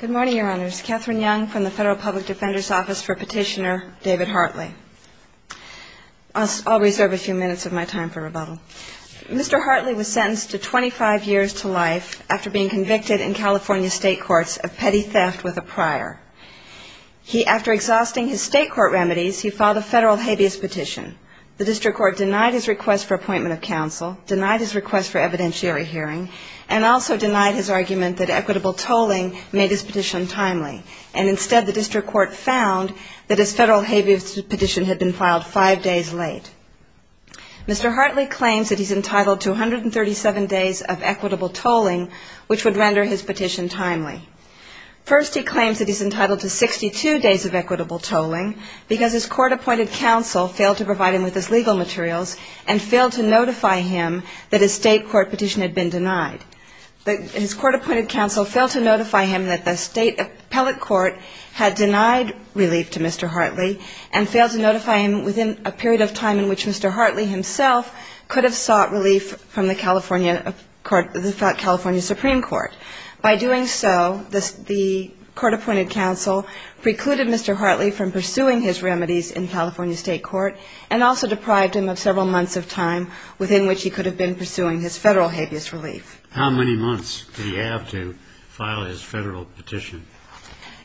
Good morning, Your Honors. Katherine Young from the Federal Public Defender's Office for Petitioner, David Hartley. I'll reserve a few minutes of my time for rebuttal. Mr. Hartley was sentenced to 25 years to life after being convicted in California state courts of petty theft with a prior. He, after exhausting his state court remedies, he filed a federal habeas petition. The district court denied his request for appointment of counsel, denied his request for evidentiary tolling, made his petition timely. And instead, the district court found that his federal habeas petition had been filed five days late. Mr. Hartley claims that he's entitled to 137 days of equitable tolling, which would render his petition timely. First, he claims that he's entitled to 62 days of equitable tolling because his court-appointed counsel failed to provide him with his legal materials and failed to notify him that his state court petition had been denied relief to Mr. Hartley and failed to notify him within a period of time in which Mr. Hartley himself could have sought relief from the California Supreme Court. By doing so, the court-appointed counsel precluded Mr. Hartley from pursuing his remedies in California state court and also deprived him of several months of time within which he could have been pursuing his federal habeas relief. How many months did he have to file his federal petition?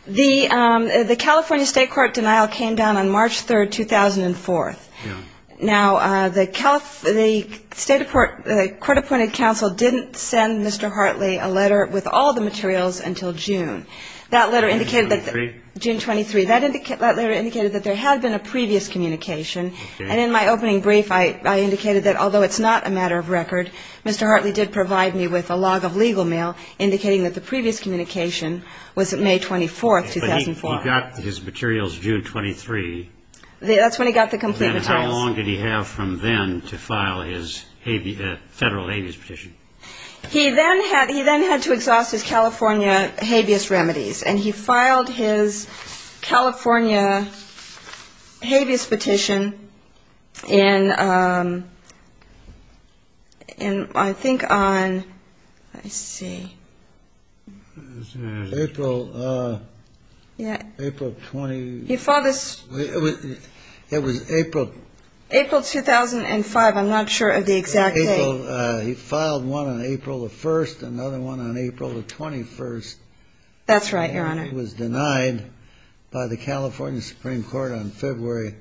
The California state court denial came down on March 3, 2004. Now, the state court-appointed counsel didn't send Mr. Hartley a letter with all the materials until June. That letter indicated that there had been a previous communication. And in my opening brief, I indicated that although it's not a matter of record, Mr. Hartley did provide me with the materials. And I also indicated with a log of legal mail indicating that the previous communication was May 24, 2004. But he got his materials June 23. That's when he got the complete materials. And how long did he have from then to file his federal habeas petition? He then had to exhaust his California habeas remedies. And he filed his California habeas petition in, I think, on June 23, 2004. I see. April 20... April 2005. I'm not sure of the exact date. He filed one on April 1st, another one on April 21st. That's right, Your Honor. And he was denied by the California Supreme Court on February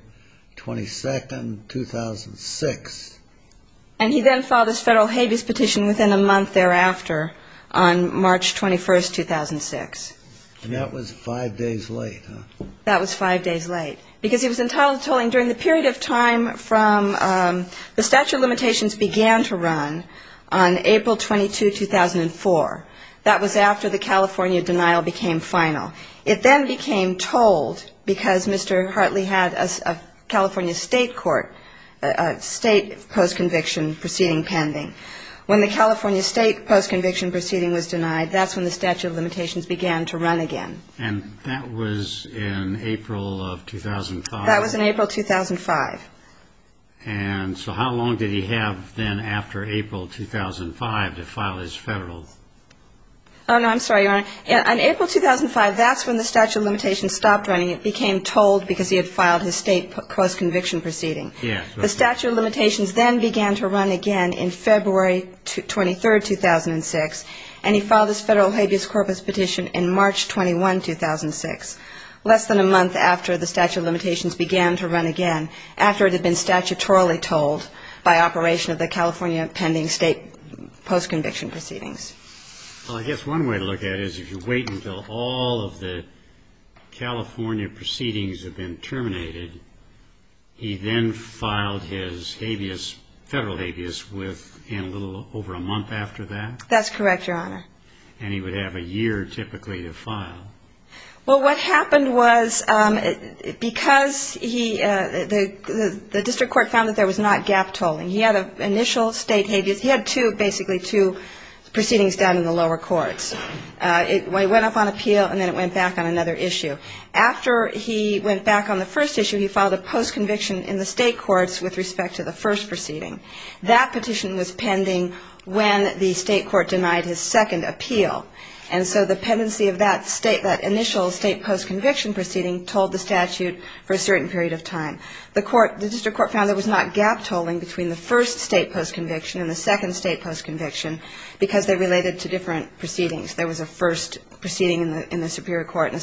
22, 2006. And he then filed his federal habeas petition within a month thereafter on March 21, 2006. And that was five days late, huh? That was five days late. Because he was entitled to tolling during the period of time from the statute of limitations began to run on April 22, 2004. That was after the California denial became final. It then became tolled because Mr. Hartley had a California state court, a state post-conviction proceeding pending. When the California state post-conviction proceeding was denied, that's when the statute of limitations began to run again. And that was in April of 2005? That was in April 2005. And so how long did he have then after April 2005 to file his federal... Oh, no, I'm sorry, Your Honor. On April 2005, that's when the statute of limitations stopped running. It became tolled because he had filed his state post-conviction proceeding. The statute of limitations then began to run again in February 23, 2006. And he filed his federal habeas corpus petition in March 21, 2006, less than a month after the statute of limitations began to run again. After it had been statutorily tolled by operation of the California pending state post-conviction proceedings. Well, I guess one way to look at it is if you wait until all of the California proceedings have been terminated, he then filed his habeas, federal habeas within a little over a month after that? That's correct, Your Honor. And he would have a year typically to file? Well, what happened was because the district court found that there was not gap tolling, he had an initial state habeas. He had two, basically, two proceedings done in the lower courts. It went up on appeal, and then it went back on another issue. After he went back on the first issue, he filed a post-conviction in the state courts with respect to the first proceeding. That petition was pending when the state court denied his second appeal. And so the pendency of that initial state post-conviction proceeding tolled the statute for a certain period of time. The district court found there was not gap tolling between the first state post-conviction and the second state post-conviction, because they related to different proceedings. There was a first proceeding in the superior court and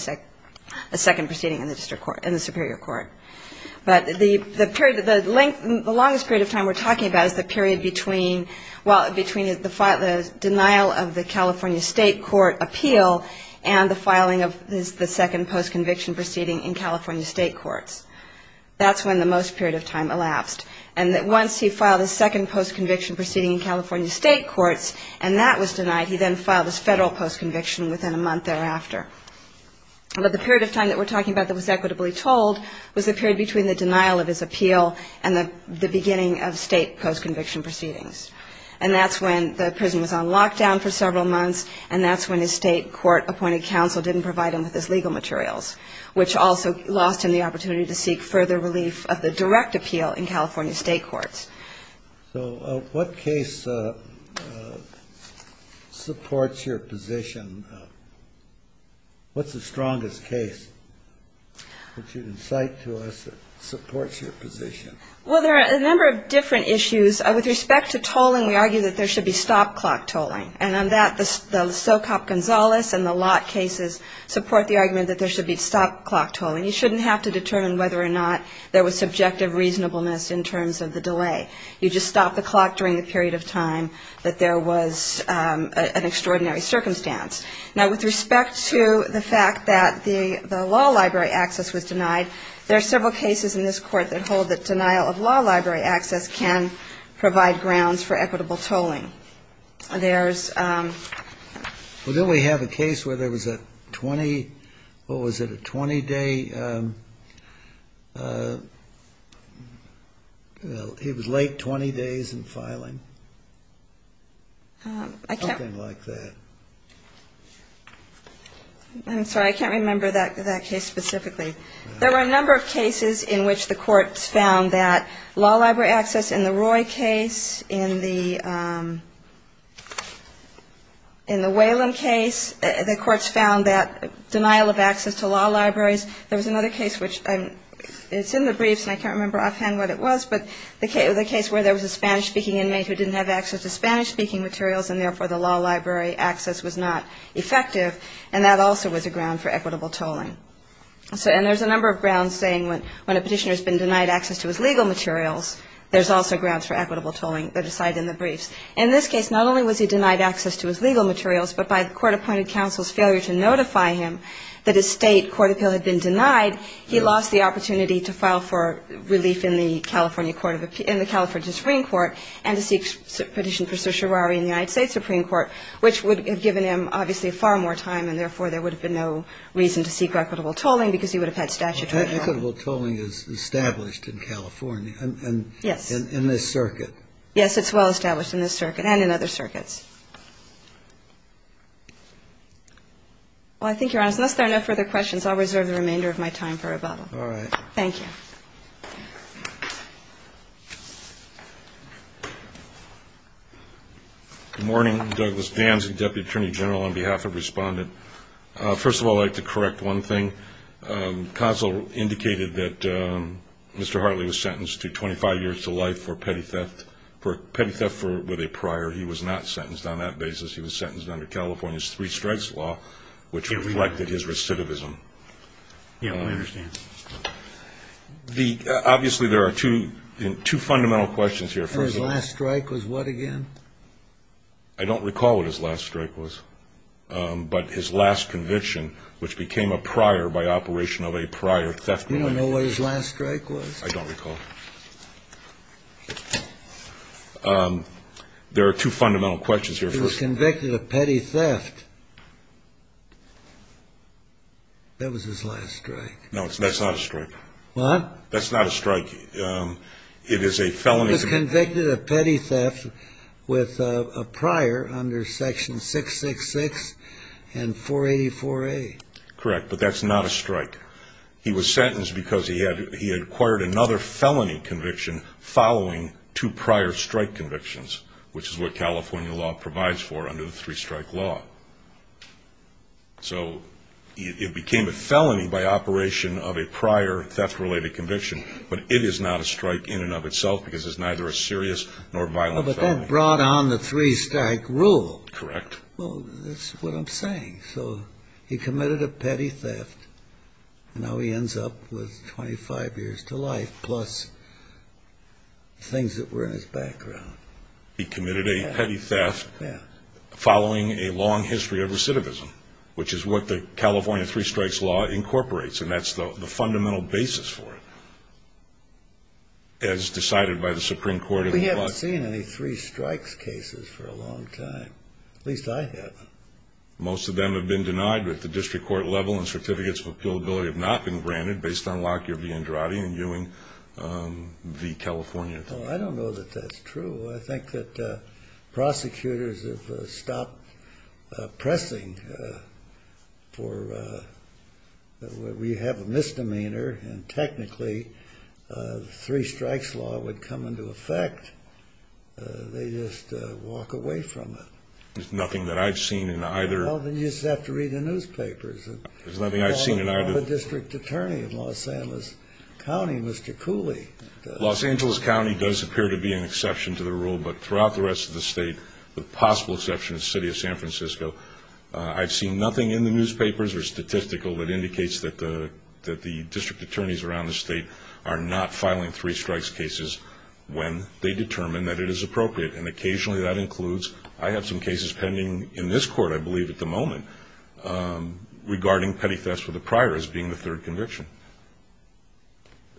a second proceeding in the superior court. But the longest period of time we're talking about is the period between the denial of the California state court appeal and the filing of the second post-conviction proceeding in California state courts. That's when the most period of time elapsed. And once he filed his second post-conviction proceeding in California state courts and that was denied, he then filed his federal post-conviction within a month thereafter. But the period of time that we're talking about that was equitably tolled was the period between the denial of his appeal and the beginning of state post-conviction proceedings. And that's when the prison was on lockdown for several months and that's when his state court appointed counsel didn't provide him with his legal materials, which also lost him the opportunity to seek further relief of the direct appeal in California state courts. So what case supports your position? What's the strongest case that you'd incite to us that supports your position? Well, there are a number of different issues. With respect to tolling, we argue that there should be stop-clock tolling. And on that, the Socop-Gonzalez and the Lott cases support the argument that there should be stop-clock tolling. You shouldn't have to determine whether or not there was a delay. You just stop the clock during the period of time that there was an extraordinary circumstance. Now, with respect to the fact that the law library access was denied, there are several cases in this court that hold that denial of law library access can provide grounds for equitable tolling. There's... I'm sorry, I can't remember that case specifically. There were a number of cases in which the courts found that law library access in the Roy case, in the Whelan case, the courts found that denial of access to law libraries. There was another case which is in the briefs and I can't remember offhand what it was, but the case where there was a Spanish-speaking inmate who didn't have access to Spanish-speaking materials and therefore the law library access was not effective. And that also was a ground for equitable tolling. And there's a number of grounds saying when a petitioner has been denied access to his legal materials, there's also grounds for equitable tolling that are cited in the briefs. In this case, not only was he denied access to his legal materials, but by the court-appointed counsel's failure to notify him that his state court appeal had been denied, he lost the opportunity to suffer to the Supreme Court and to seek a petition for certiorari in the United States Supreme Court, which would have given him obviously far more time and therefore there would have been no reason to seek equitable tolling because he would have had statutory right. Equitable tolling is established in California. Yes. In this circuit. Yes, it's well established in this circuit and in other circuits. Well, I think Your Honor, unless there are no further questions, I'll reserve the remainder of my time for rebuttal. All right. Good morning. Douglas Vance, Deputy Attorney General, on behalf of Respondent. First of all, I'd like to correct one thing. Counsel indicated that Mr. Hartley was sentenced to 25 years to life for petty theft with a prior. He was not sentenced on that basis. He was sentenced under California's three strikes law, which reflected his recidivism. Yeah, I understand. Obviously, there are two fundamental questions here. His last strike was what again? I don't recall what his last strike was, but his last conviction, which became a prior by operation of a prior theft. You don't know what his last strike was? I don't recall. There are two fundamental questions here. He was convicted of petty theft. That was his last strike. No, that's not a strike. He was convicted of petty theft with a prior under Section 666 and 484A. Correct, but that's not a strike. He was sentenced because he had acquired another felony conviction following two prior strike convictions, which is what California law provides for under the three strike law. So it became a felony by operation of a prior theft-related conviction, but it is not a strike in and of itself because it's neither a serious nor violent felony. But that brought on the three strike rule. Correct. Well, that's what I'm saying. So he committed a petty theft, and now he ends up with 25 years to life plus things that were in his background. He committed a petty theft following a long history of recidivism, which is what the California three strikes law incorporates, and that's the fundamental basis for it, as decided by the Supreme Court. We haven't seen any three strikes cases for a long time. At least I haven't. Most of them have been denied, but the district court level and certificates of appealability have not been granted based on Lockyer v. Andrade and Ewing v. California. Well, I don't know that that's true. I think that prosecutors have stopped pressing for... We have a misdemeanor, and technically the three strikes law would come into effect. They just walk away from it. There's nothing that I've seen in either... There does appear to be an exception to the rule, but throughout the rest of the state, the possible exception is the city of San Francisco. I've seen nothing in the newspapers or statistical that indicates that the district attorneys around the state are not filing three strikes cases when they determine that it is appropriate. And occasionally that includes... I have some cases pending in this court, I believe, at the moment regarding petty thefts for the prior as being the third conviction.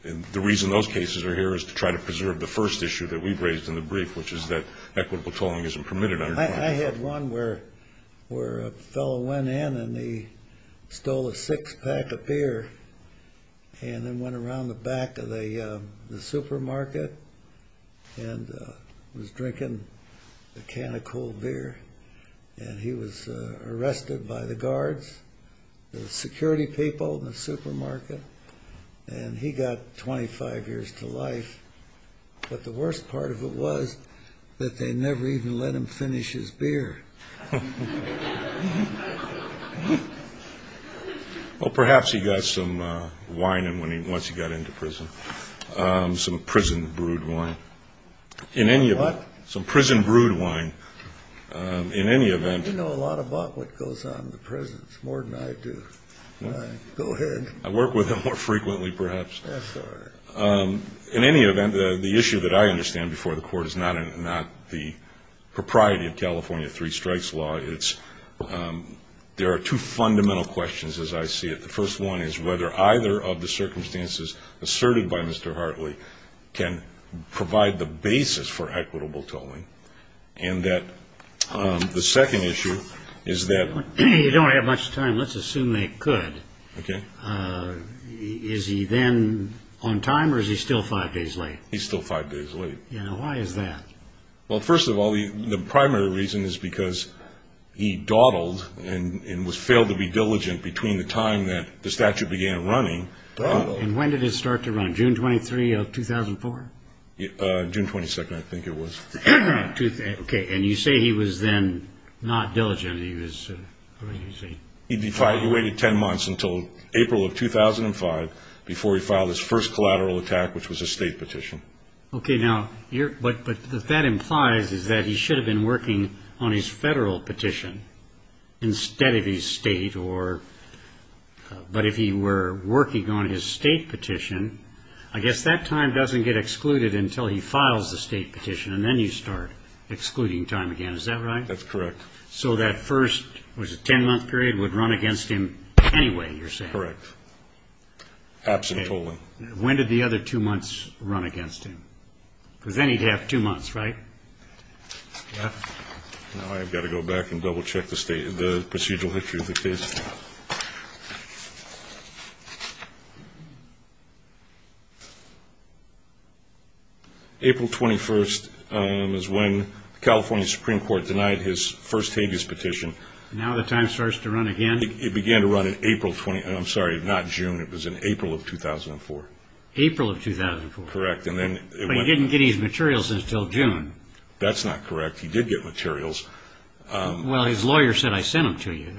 And the reason those cases are here is to try to preserve the first issue that we've raised in the brief, which is that equitable tolling isn't permitted under... I had one where a fellow went in and he stole a six-pack of beer and then went around the back of the supermarket and was drinking a can of cold beer. And he was arrested by the guards, the security people in the supermarket. And he got 25 years to life, but the worst part of it was that they never even let him finish his beer. Well, perhaps he got some wine once he got into prison, some prison-brewed wine. What? Some prison-brewed wine. You know a lot about what goes on in the prisons, more than I do. Go ahead. I work with him more frequently, perhaps. In any event, the issue that I understand before the court is not the propriety of California three strikes law. There are two fundamental questions as I see it. The first one is whether either of the circumstances asserted by Mr. Hartley can provide the basis for equitable tolling. And the second issue is that... You don't have much time. Let's assume they could. Is he then on time or is he still five days late? He's still five days late. Why is that? Well, first of all, the primary reason is because he dawdled and failed to be diligent between the time that the statute began running. And when did it start to run? June 23, 2004? June 22, I think it was. Okay, and you say he was then not diligent. He waited ten months until April of 2005 before he filed his first collateral attack, which was a state petition. Okay, but what that implies is that he should have been working on his federal petition instead of his state. But if he were working on his state petition, I guess that time doesn't get excluded until he files the state petition. And then you start excluding time again, is that right? That's correct. So that first ten-month period would run against him anyway, you're saying? Correct. Absent tolling. When did the other two months run against him? Because then he'd have two months, right? Now I've got to go back and double-check the procedural history of the case. April 21st is when the California Supreme Court denied his first habeas petition. Now the time starts to run again? It began to run in April of 2004. April of 2004. But he didn't get his materials until June. That's not correct, he did get materials. Well, his lawyer said, I sent them to you.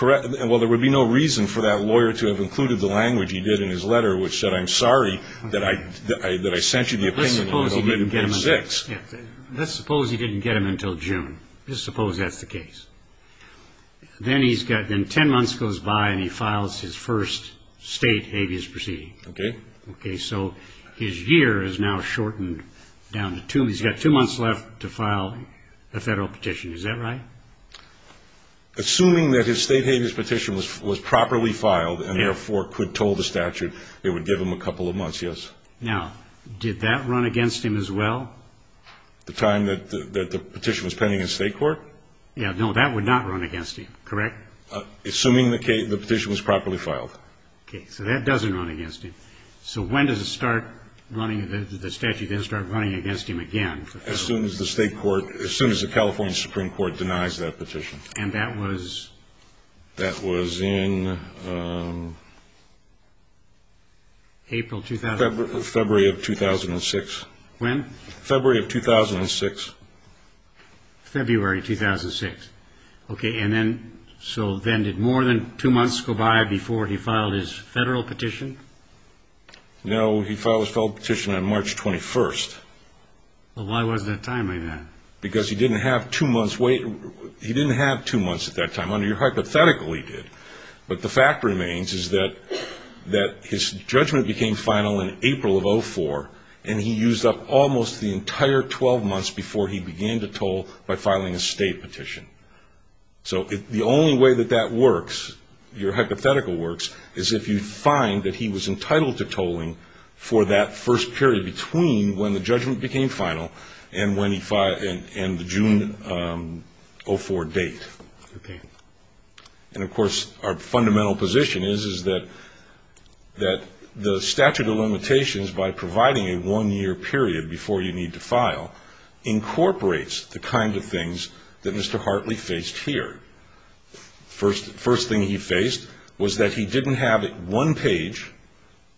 Well, there would be no reason for that lawyer to have included the language he did in his letter, which said, I'm sorry that I sent you the opinion until May 26th. Let's suppose he didn't get them until June. Let's suppose that's the case. Then ten months goes by and he files his first state habeas petition. So his year is now shortened down to two. He's got two months left to file a federal petition, is that right? Assuming that his state habeas petition was properly filed and therefore could toll the statute, it would give him a couple of months, yes. Now, did that run against him as well? The time that the petition was pending in state court? Yeah, no, that would not run against him, correct? Assuming the petition was properly filed. Okay, so that doesn't run against him. So when does the statute start running against him again? As soon as the California Supreme Court denies that petition. And that was? That was in February of 2006. When? February of 2006. Okay, so then did more than two months go by before he filed his federal petition? No, he filed his federal petition on March 21st. Well, why was there a time like that? Because he didn't have two months at that time. Under your hypothetical, he did. But the fact remains is that his judgment became final in April of 2004, and he used up almost the entire 12 months before he began to toll by filing a state petition. So the only way that that works, your hypothetical works, is if you find that he was entitled to tolling for that first period between when the judgment became final and the June of 2004 date. Okay. And, of course, our fundamental position is that the statute of limitations, by providing a one-year period before you need to file, incorporates the kind of things that Mr. Hartley faced here. The first thing he faced was that he didn't have one page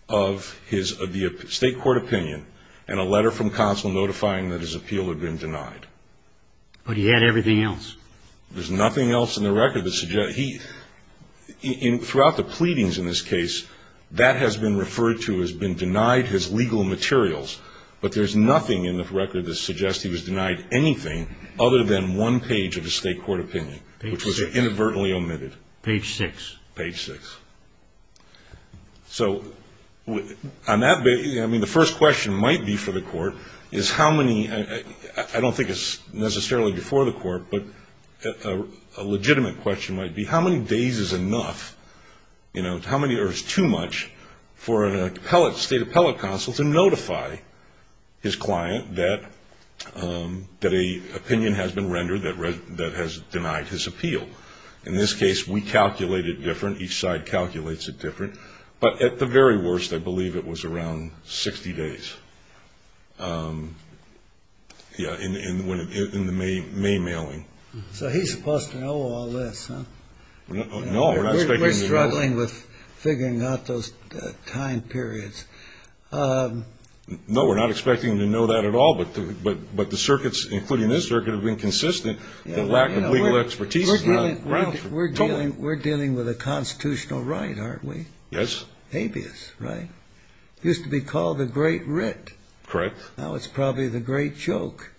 of the state court opinion and a letter from counsel notifying that his appeal had been denied. But he had everything else. There's nothing else in the record that suggests he ñ throughout the pleadings in this case, that has been referred to as being denied, his legal materials. But there's nothing in the record that suggests he was denied anything other than one page of the state court opinion, which was inadvertently omitted. Page six. Page six. I mean, the first question might be for the court is how many ñ I don't think it's necessarily before the court, but a legitimate question might be how many days is enough, you know, or is too much for a state appellate counsel to notify his client that an opinion has been rendered that has denied his appeal. In this case, we calculate it different. Each side calculates it different. But at the very worst, I believe it was around 60 days. Yeah, in the May mailing. So he's supposed to know all this, huh? No, we're not expecting him to know. We're struggling with figuring out those time periods. No, we're not expecting him to know that at all. But the circuits, including this circuit, have been consistent that lack of legal expertise is not right. We're dealing with a constitutional right, aren't we? Yes. Habeas, right? Used to be called the great writ. Correct. Now it's probably the great joke.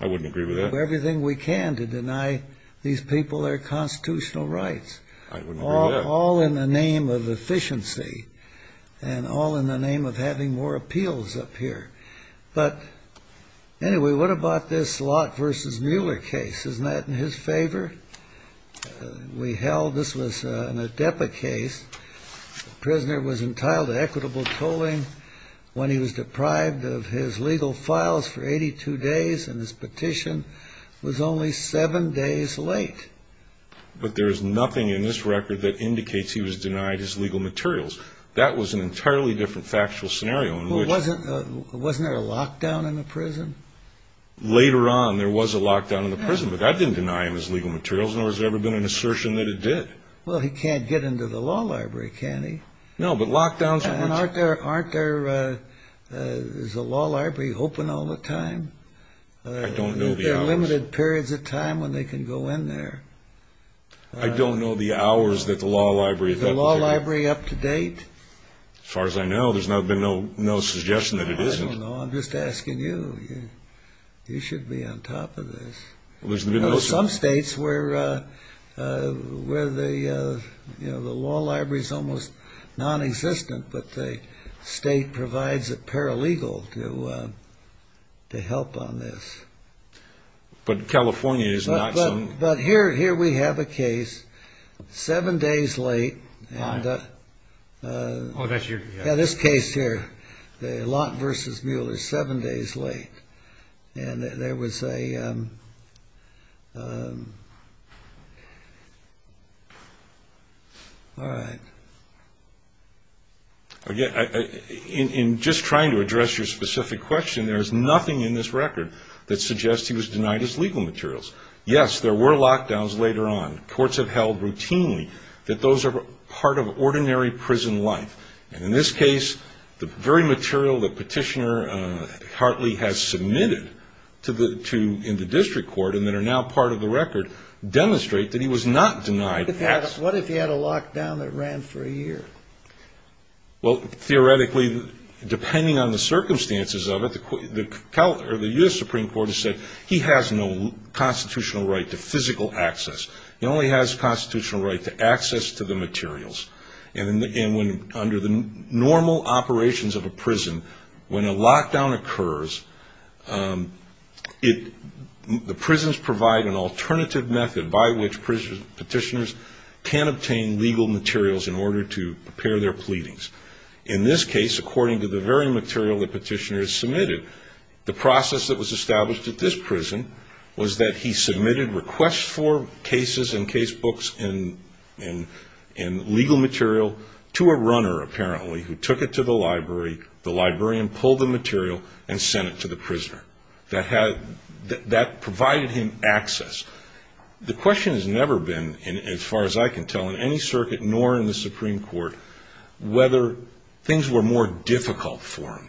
I wouldn't agree with that. We're doing everything we can to deny these people their constitutional rights. All in the name of efficiency and all in the name of having more appeals up here. But anyway, what about this Lott v. Mueller case? Isn't that in his favor? We held this was an ADEPA case. The prisoner was entitled to equitable tolling when he was deprived of his legal files for 82 days, and his petition was only seven days late. But there is nothing in this record that indicates he was denied his legal materials. That was an entirely different factual scenario. Wasn't there a lockdown in the prison? Later on, there was a lockdown in the prison, but that didn't deny him his legal materials, nor has there ever been an assertion that it did. Well, he can't get into the law library, can he? Isn't the law library open all the time? I don't know the hours that the law library is open. As far as I know, there's been no suggestion that it isn't. I don't know. I'm just asking you. You should be on top of this. There are some states where the law library is almost non-existent, but the state provides a paralegal to help on this. But California is not so... But here we have a case seven days late. This case here, the Lott v. Mueller, seven days late. In just trying to address your specific question, there is nothing in this record that suggests he was denied his legal materials. Yes, there were lockdowns later on. Courts have held routinely that those are part of ordinary prison life. And in this case, the very material that Petitioner Hartley has submitted in the district court, and that are now part of the record, demonstrate that he was not denied... What if he had a lockdown that ran for a year? Well, theoretically, depending on the circumstances of it, the U.S. Supreme Court has said he has no constitutional rights. He only has constitutional right to physical access. He only has constitutional right to access to the materials. And under the normal operations of a prison, when a lockdown occurs, the prisons provide an alternative method by which petitioners can obtain legal materials in order to prepare their pleadings. In this case, according to the very material that Petitioner has submitted, the process that was established at this prison was that he submitted requests for cases and case books and legal material to a runner, apparently, who took it to the library. The librarian pulled the material and sent it to the prisoner. That provided him access. The question has never been, as far as I can tell, in any circuit, nor in the Supreme Court, whether things were more difficult for him.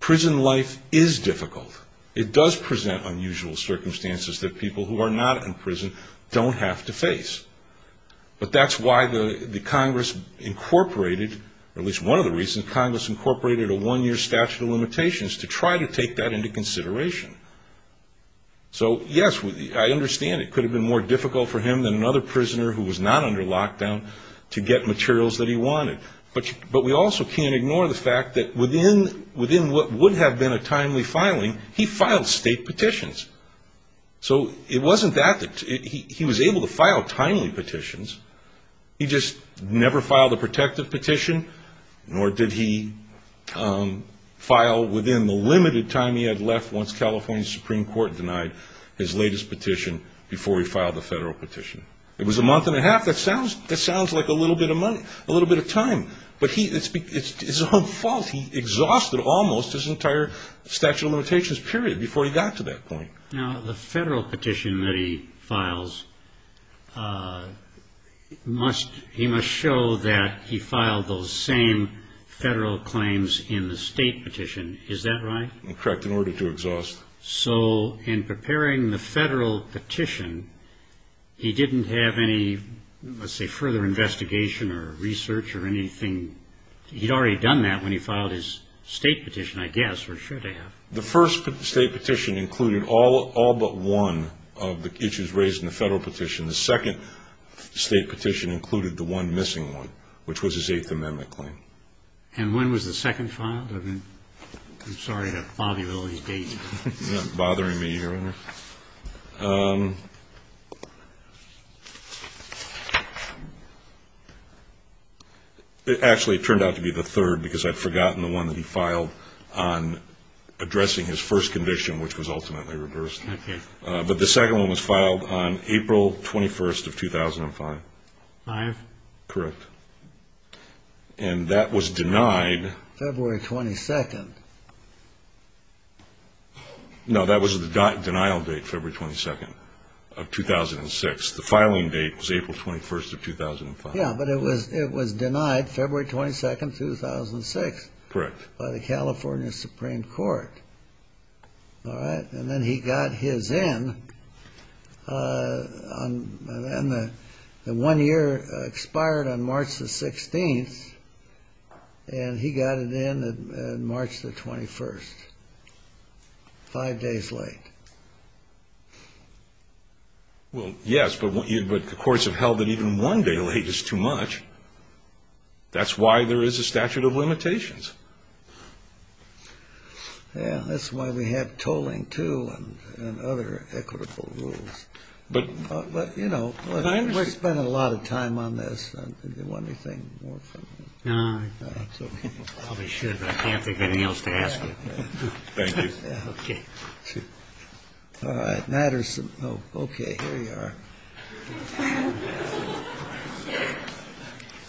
Prison life is difficult. It does present unusual circumstances that people who are not in prison don't have to face. But that's why the Congress incorporated, or at least one of the reasons Congress incorporated a one-year statute of limitations, to try to take that into consideration. So, yes, I understand it could have been more difficult for him than another prisoner who was not under lockdown to get materials that he wanted. But we also can't ignore the fact that within what would have been a timely filing, he filed state petitions. So it wasn't that he was able to file timely petitions. He just never filed a protective petition, nor did he file within the limited time he had left once California's Supreme Court denied his latest petition before he filed a federal petition. It was a month and a half. That sounds like a little bit of time. But it's his own fault. He exhausted almost his entire statute of limitations period before he got to that point. Now, the federal petition that he files, he must show that he filed those same federal claims in the state petition. Is that right? Correct, in order to exhaust. So in preparing the federal petition, he didn't have any, let's say, further investigation or research or anything. He'd already done that when he filed his state petition, I guess, or should have. The first state petition included all but one of the issues raised in the federal petition. The second state petition included the one missing one, which was his Eighth Amendment claim. And when was the second filed? I'm sorry to bother you with all these dates. You're not bothering me here, are you? Actually, it turned out to be the third, because I'd forgotten the one that he filed on addressing his first conviction, which was ultimately reversed. But the second one was filed on April 21st of 2005. Correct. And that was denied. No, that was the denial date, February 22nd of 2006. The filing date was April 21st of 2005. Yeah, but it was denied February 22nd, 2006. Correct. By the California Supreme Court. All right? And then he got his in. And then the one year expired on March the 16th, and he got it in on March the 21st, five days late. Well, yes, but the courts have held that even one day late is too much. Yeah, that's why we have tolling, too, and other equitable rules. But, you know, we're spending a lot of time on this. Do you want anything more from me? No, I probably should, but I can't think of anything else to ask you. Thank you. All right. Okay, here you are.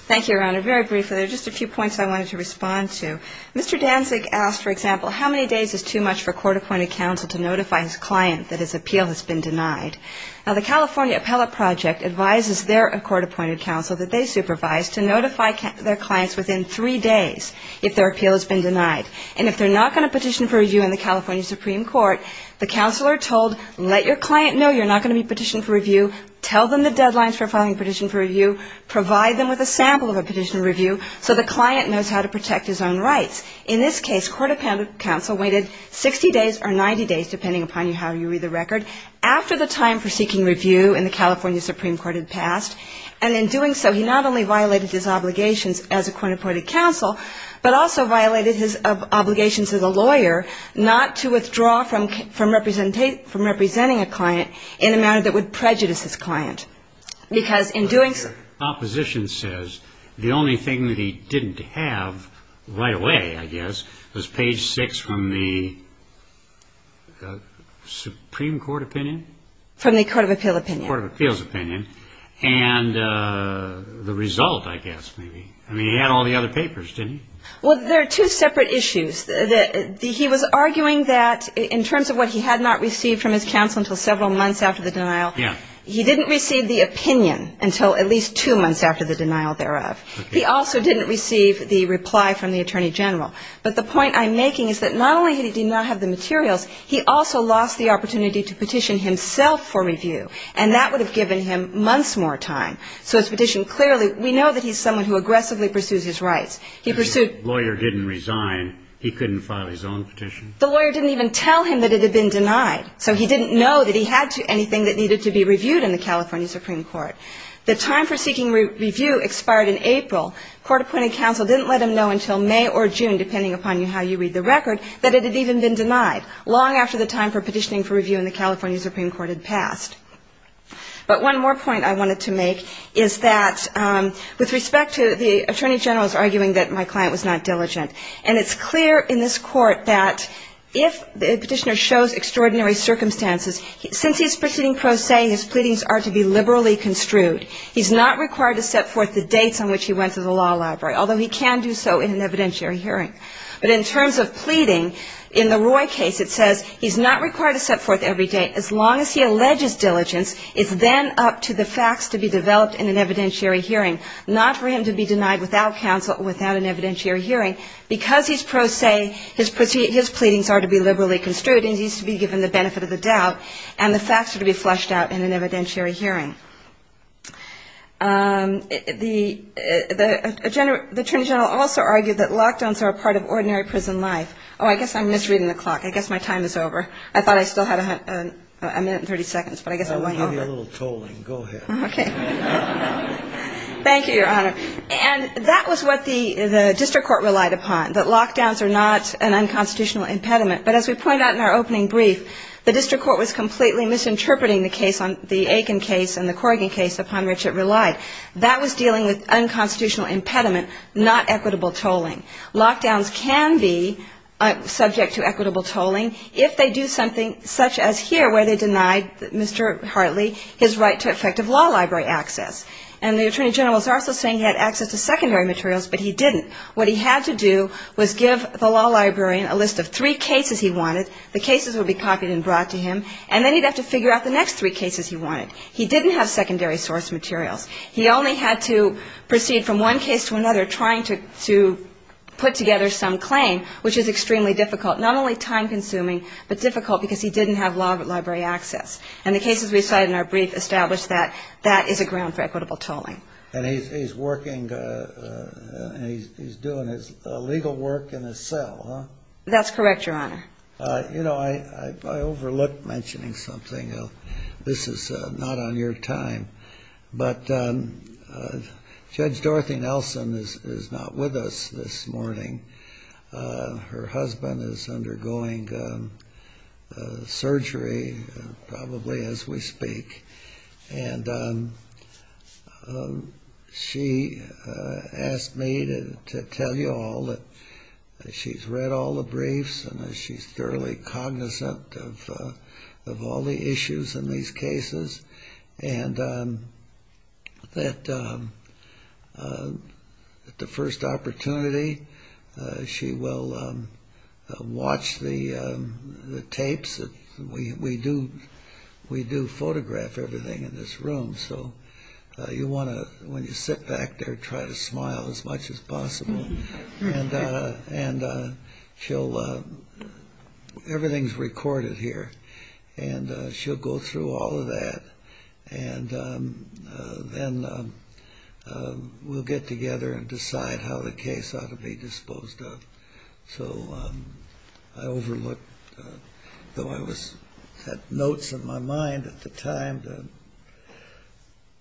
Thank you, Your Honor. Very briefly, there are just a few points I wanted to respond to. Mr. Danzig asked, for example, how many days is too much for a court-appointed counsel to notify his client that his appeal has been denied? Now, the California Appellate Project advises their court-appointed counsel that they supervise to notify their clients within three days if their appeal has been denied. And if they're not going to petition for review in the California Supreme Court, the counsel are told, let your client know you're not going to be petitioning for review, tell them the deadlines for filing a petition for review, provide them with a sample of a petition for review so the client knows how to protect his own rights. In this case, court-appointed counsel waited 60 days or 90 days, depending upon how you read the record, after the time for seeking review in the California Supreme Court had passed. And in doing so, he not only violated his obligations as a court-appointed counsel, but also violated his obligations as a lawyer not to withdraw from representing a client in a manner that would prejudice his client, because in doing so. But your opposition says the only thing that he didn't have right away, I guess, was page 6 from the Supreme Court opinion? From the Court of Appeal opinion. Court of Appeal's opinion. And the result, I guess, maybe. I mean, he had all the other papers, didn't he? Well, there are two separate issues. He was arguing that in terms of what he had not received from his counsel until several months after the denial, he didn't receive the opinion until at least two months after the denial thereof. He also didn't receive the reply from the Attorney General. But the point I'm making is that not only did he not have the materials, he also lost the opportunity to petition himself for review. And that would have given him months more time. So his petition clearly, we know that he's someone who aggressively pursues his rights. If the lawyer didn't resign, he couldn't file his own petition? The lawyer didn't even tell him that it had been denied. So he didn't know that he had anything that needed to be reviewed in the California Supreme Court. The time for seeking review expired in April. Court-appointed counsel didn't let him know until May or June, depending upon how you read the record, that it had even been denied, long after the time for petitioning for review in the California Supreme Court had passed. But one more point I wanted to make is that with respect to the Attorney General's arguing that my client was not diligent, and it's clear in this Court that if the petitioner shows extraordinary circumstances, since he's proceeding pro se, his pleadings are to be liberally construed. He's not required to set forth the dates on which he went to the law library, although he can do so in an evidentiary hearing. But in terms of pleading, in the Roy case, it says he's not required to set forth every date. As long as he alleges diligence, it's then up to the facts to be developed in an evidentiary hearing, not for him to be denied without counsel or without an evidentiary hearing. Because he's pro se, his pleadings are to be liberally construed, and he needs to be given the benefit of the doubt, and the facts are to be fleshed out in an evidentiary hearing. The Attorney General also argued that lockdowns are a part of ordinary prison life. Oh, I guess I'm misreading the clock. I guess my time is over. I thought I still had a minute and 30 seconds, but I guess I won't hold it. I'll give you a little tolling. Go ahead. Okay. Thank you, Your Honor. And that was what the district court relied upon, that lockdowns are not an unconstitutional impediment. But as we pointed out in our opening brief, the district court was completely misinterpreting the case, the Aiken case and the Corrigan case, upon which it relied. That was dealing with unconstitutional impediment, not equitable tolling. Lockdowns can be subject to equitable tolling if they do something such as here, where they denied Mr. Hartley his right to effective law library access. And the Attorney General was also saying he had access to secondary materials, but he didn't. What he had to do was give the law librarian a list of three cases he wanted, the cases would be copied and brought to him, and then he'd have to figure out the next three cases he wanted. He didn't have secondary source materials. He only had to proceed from one case to another, trying to put together some claim, which is extremely difficult, not only time-consuming, but difficult because he didn't have law library access. And the cases we cited in our brief established that that is a ground for equitable tolling. And he's working and he's doing his legal work in a cell, huh? That's correct, Your Honor. You know, I overlooked mentioning something else. This is not on your time, but Judge Dorothy Nelson is not with us this morning. Her husband is undergoing surgery probably as we speak, and she asked me to tell you all that she's read all the briefs and that she's thoroughly cognizant of all the issues in these cases, and that at the first opportunity she will watch the tapes. We do photograph everything in this room, so you want to, when you sit back there, and she'll, everything's recorded here, and she'll go through all of that, and then we'll get together and decide how the case ought to be disposed of. So I overlooked, though I had notes in my mind at the time to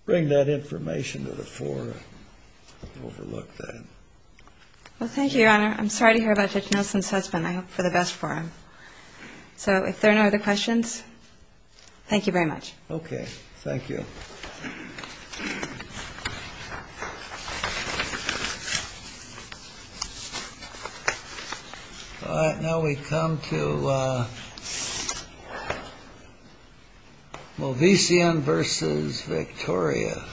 bring that information to the floor, I overlooked that. Well, thank you, Your Honor. I'm sorry to hear about Judge Nelson's husband. I hope for the best for him. So if there are no other questions, thank you very much. Okay, thank you. All right, now we come to Movissian v. Victoria. Thank you.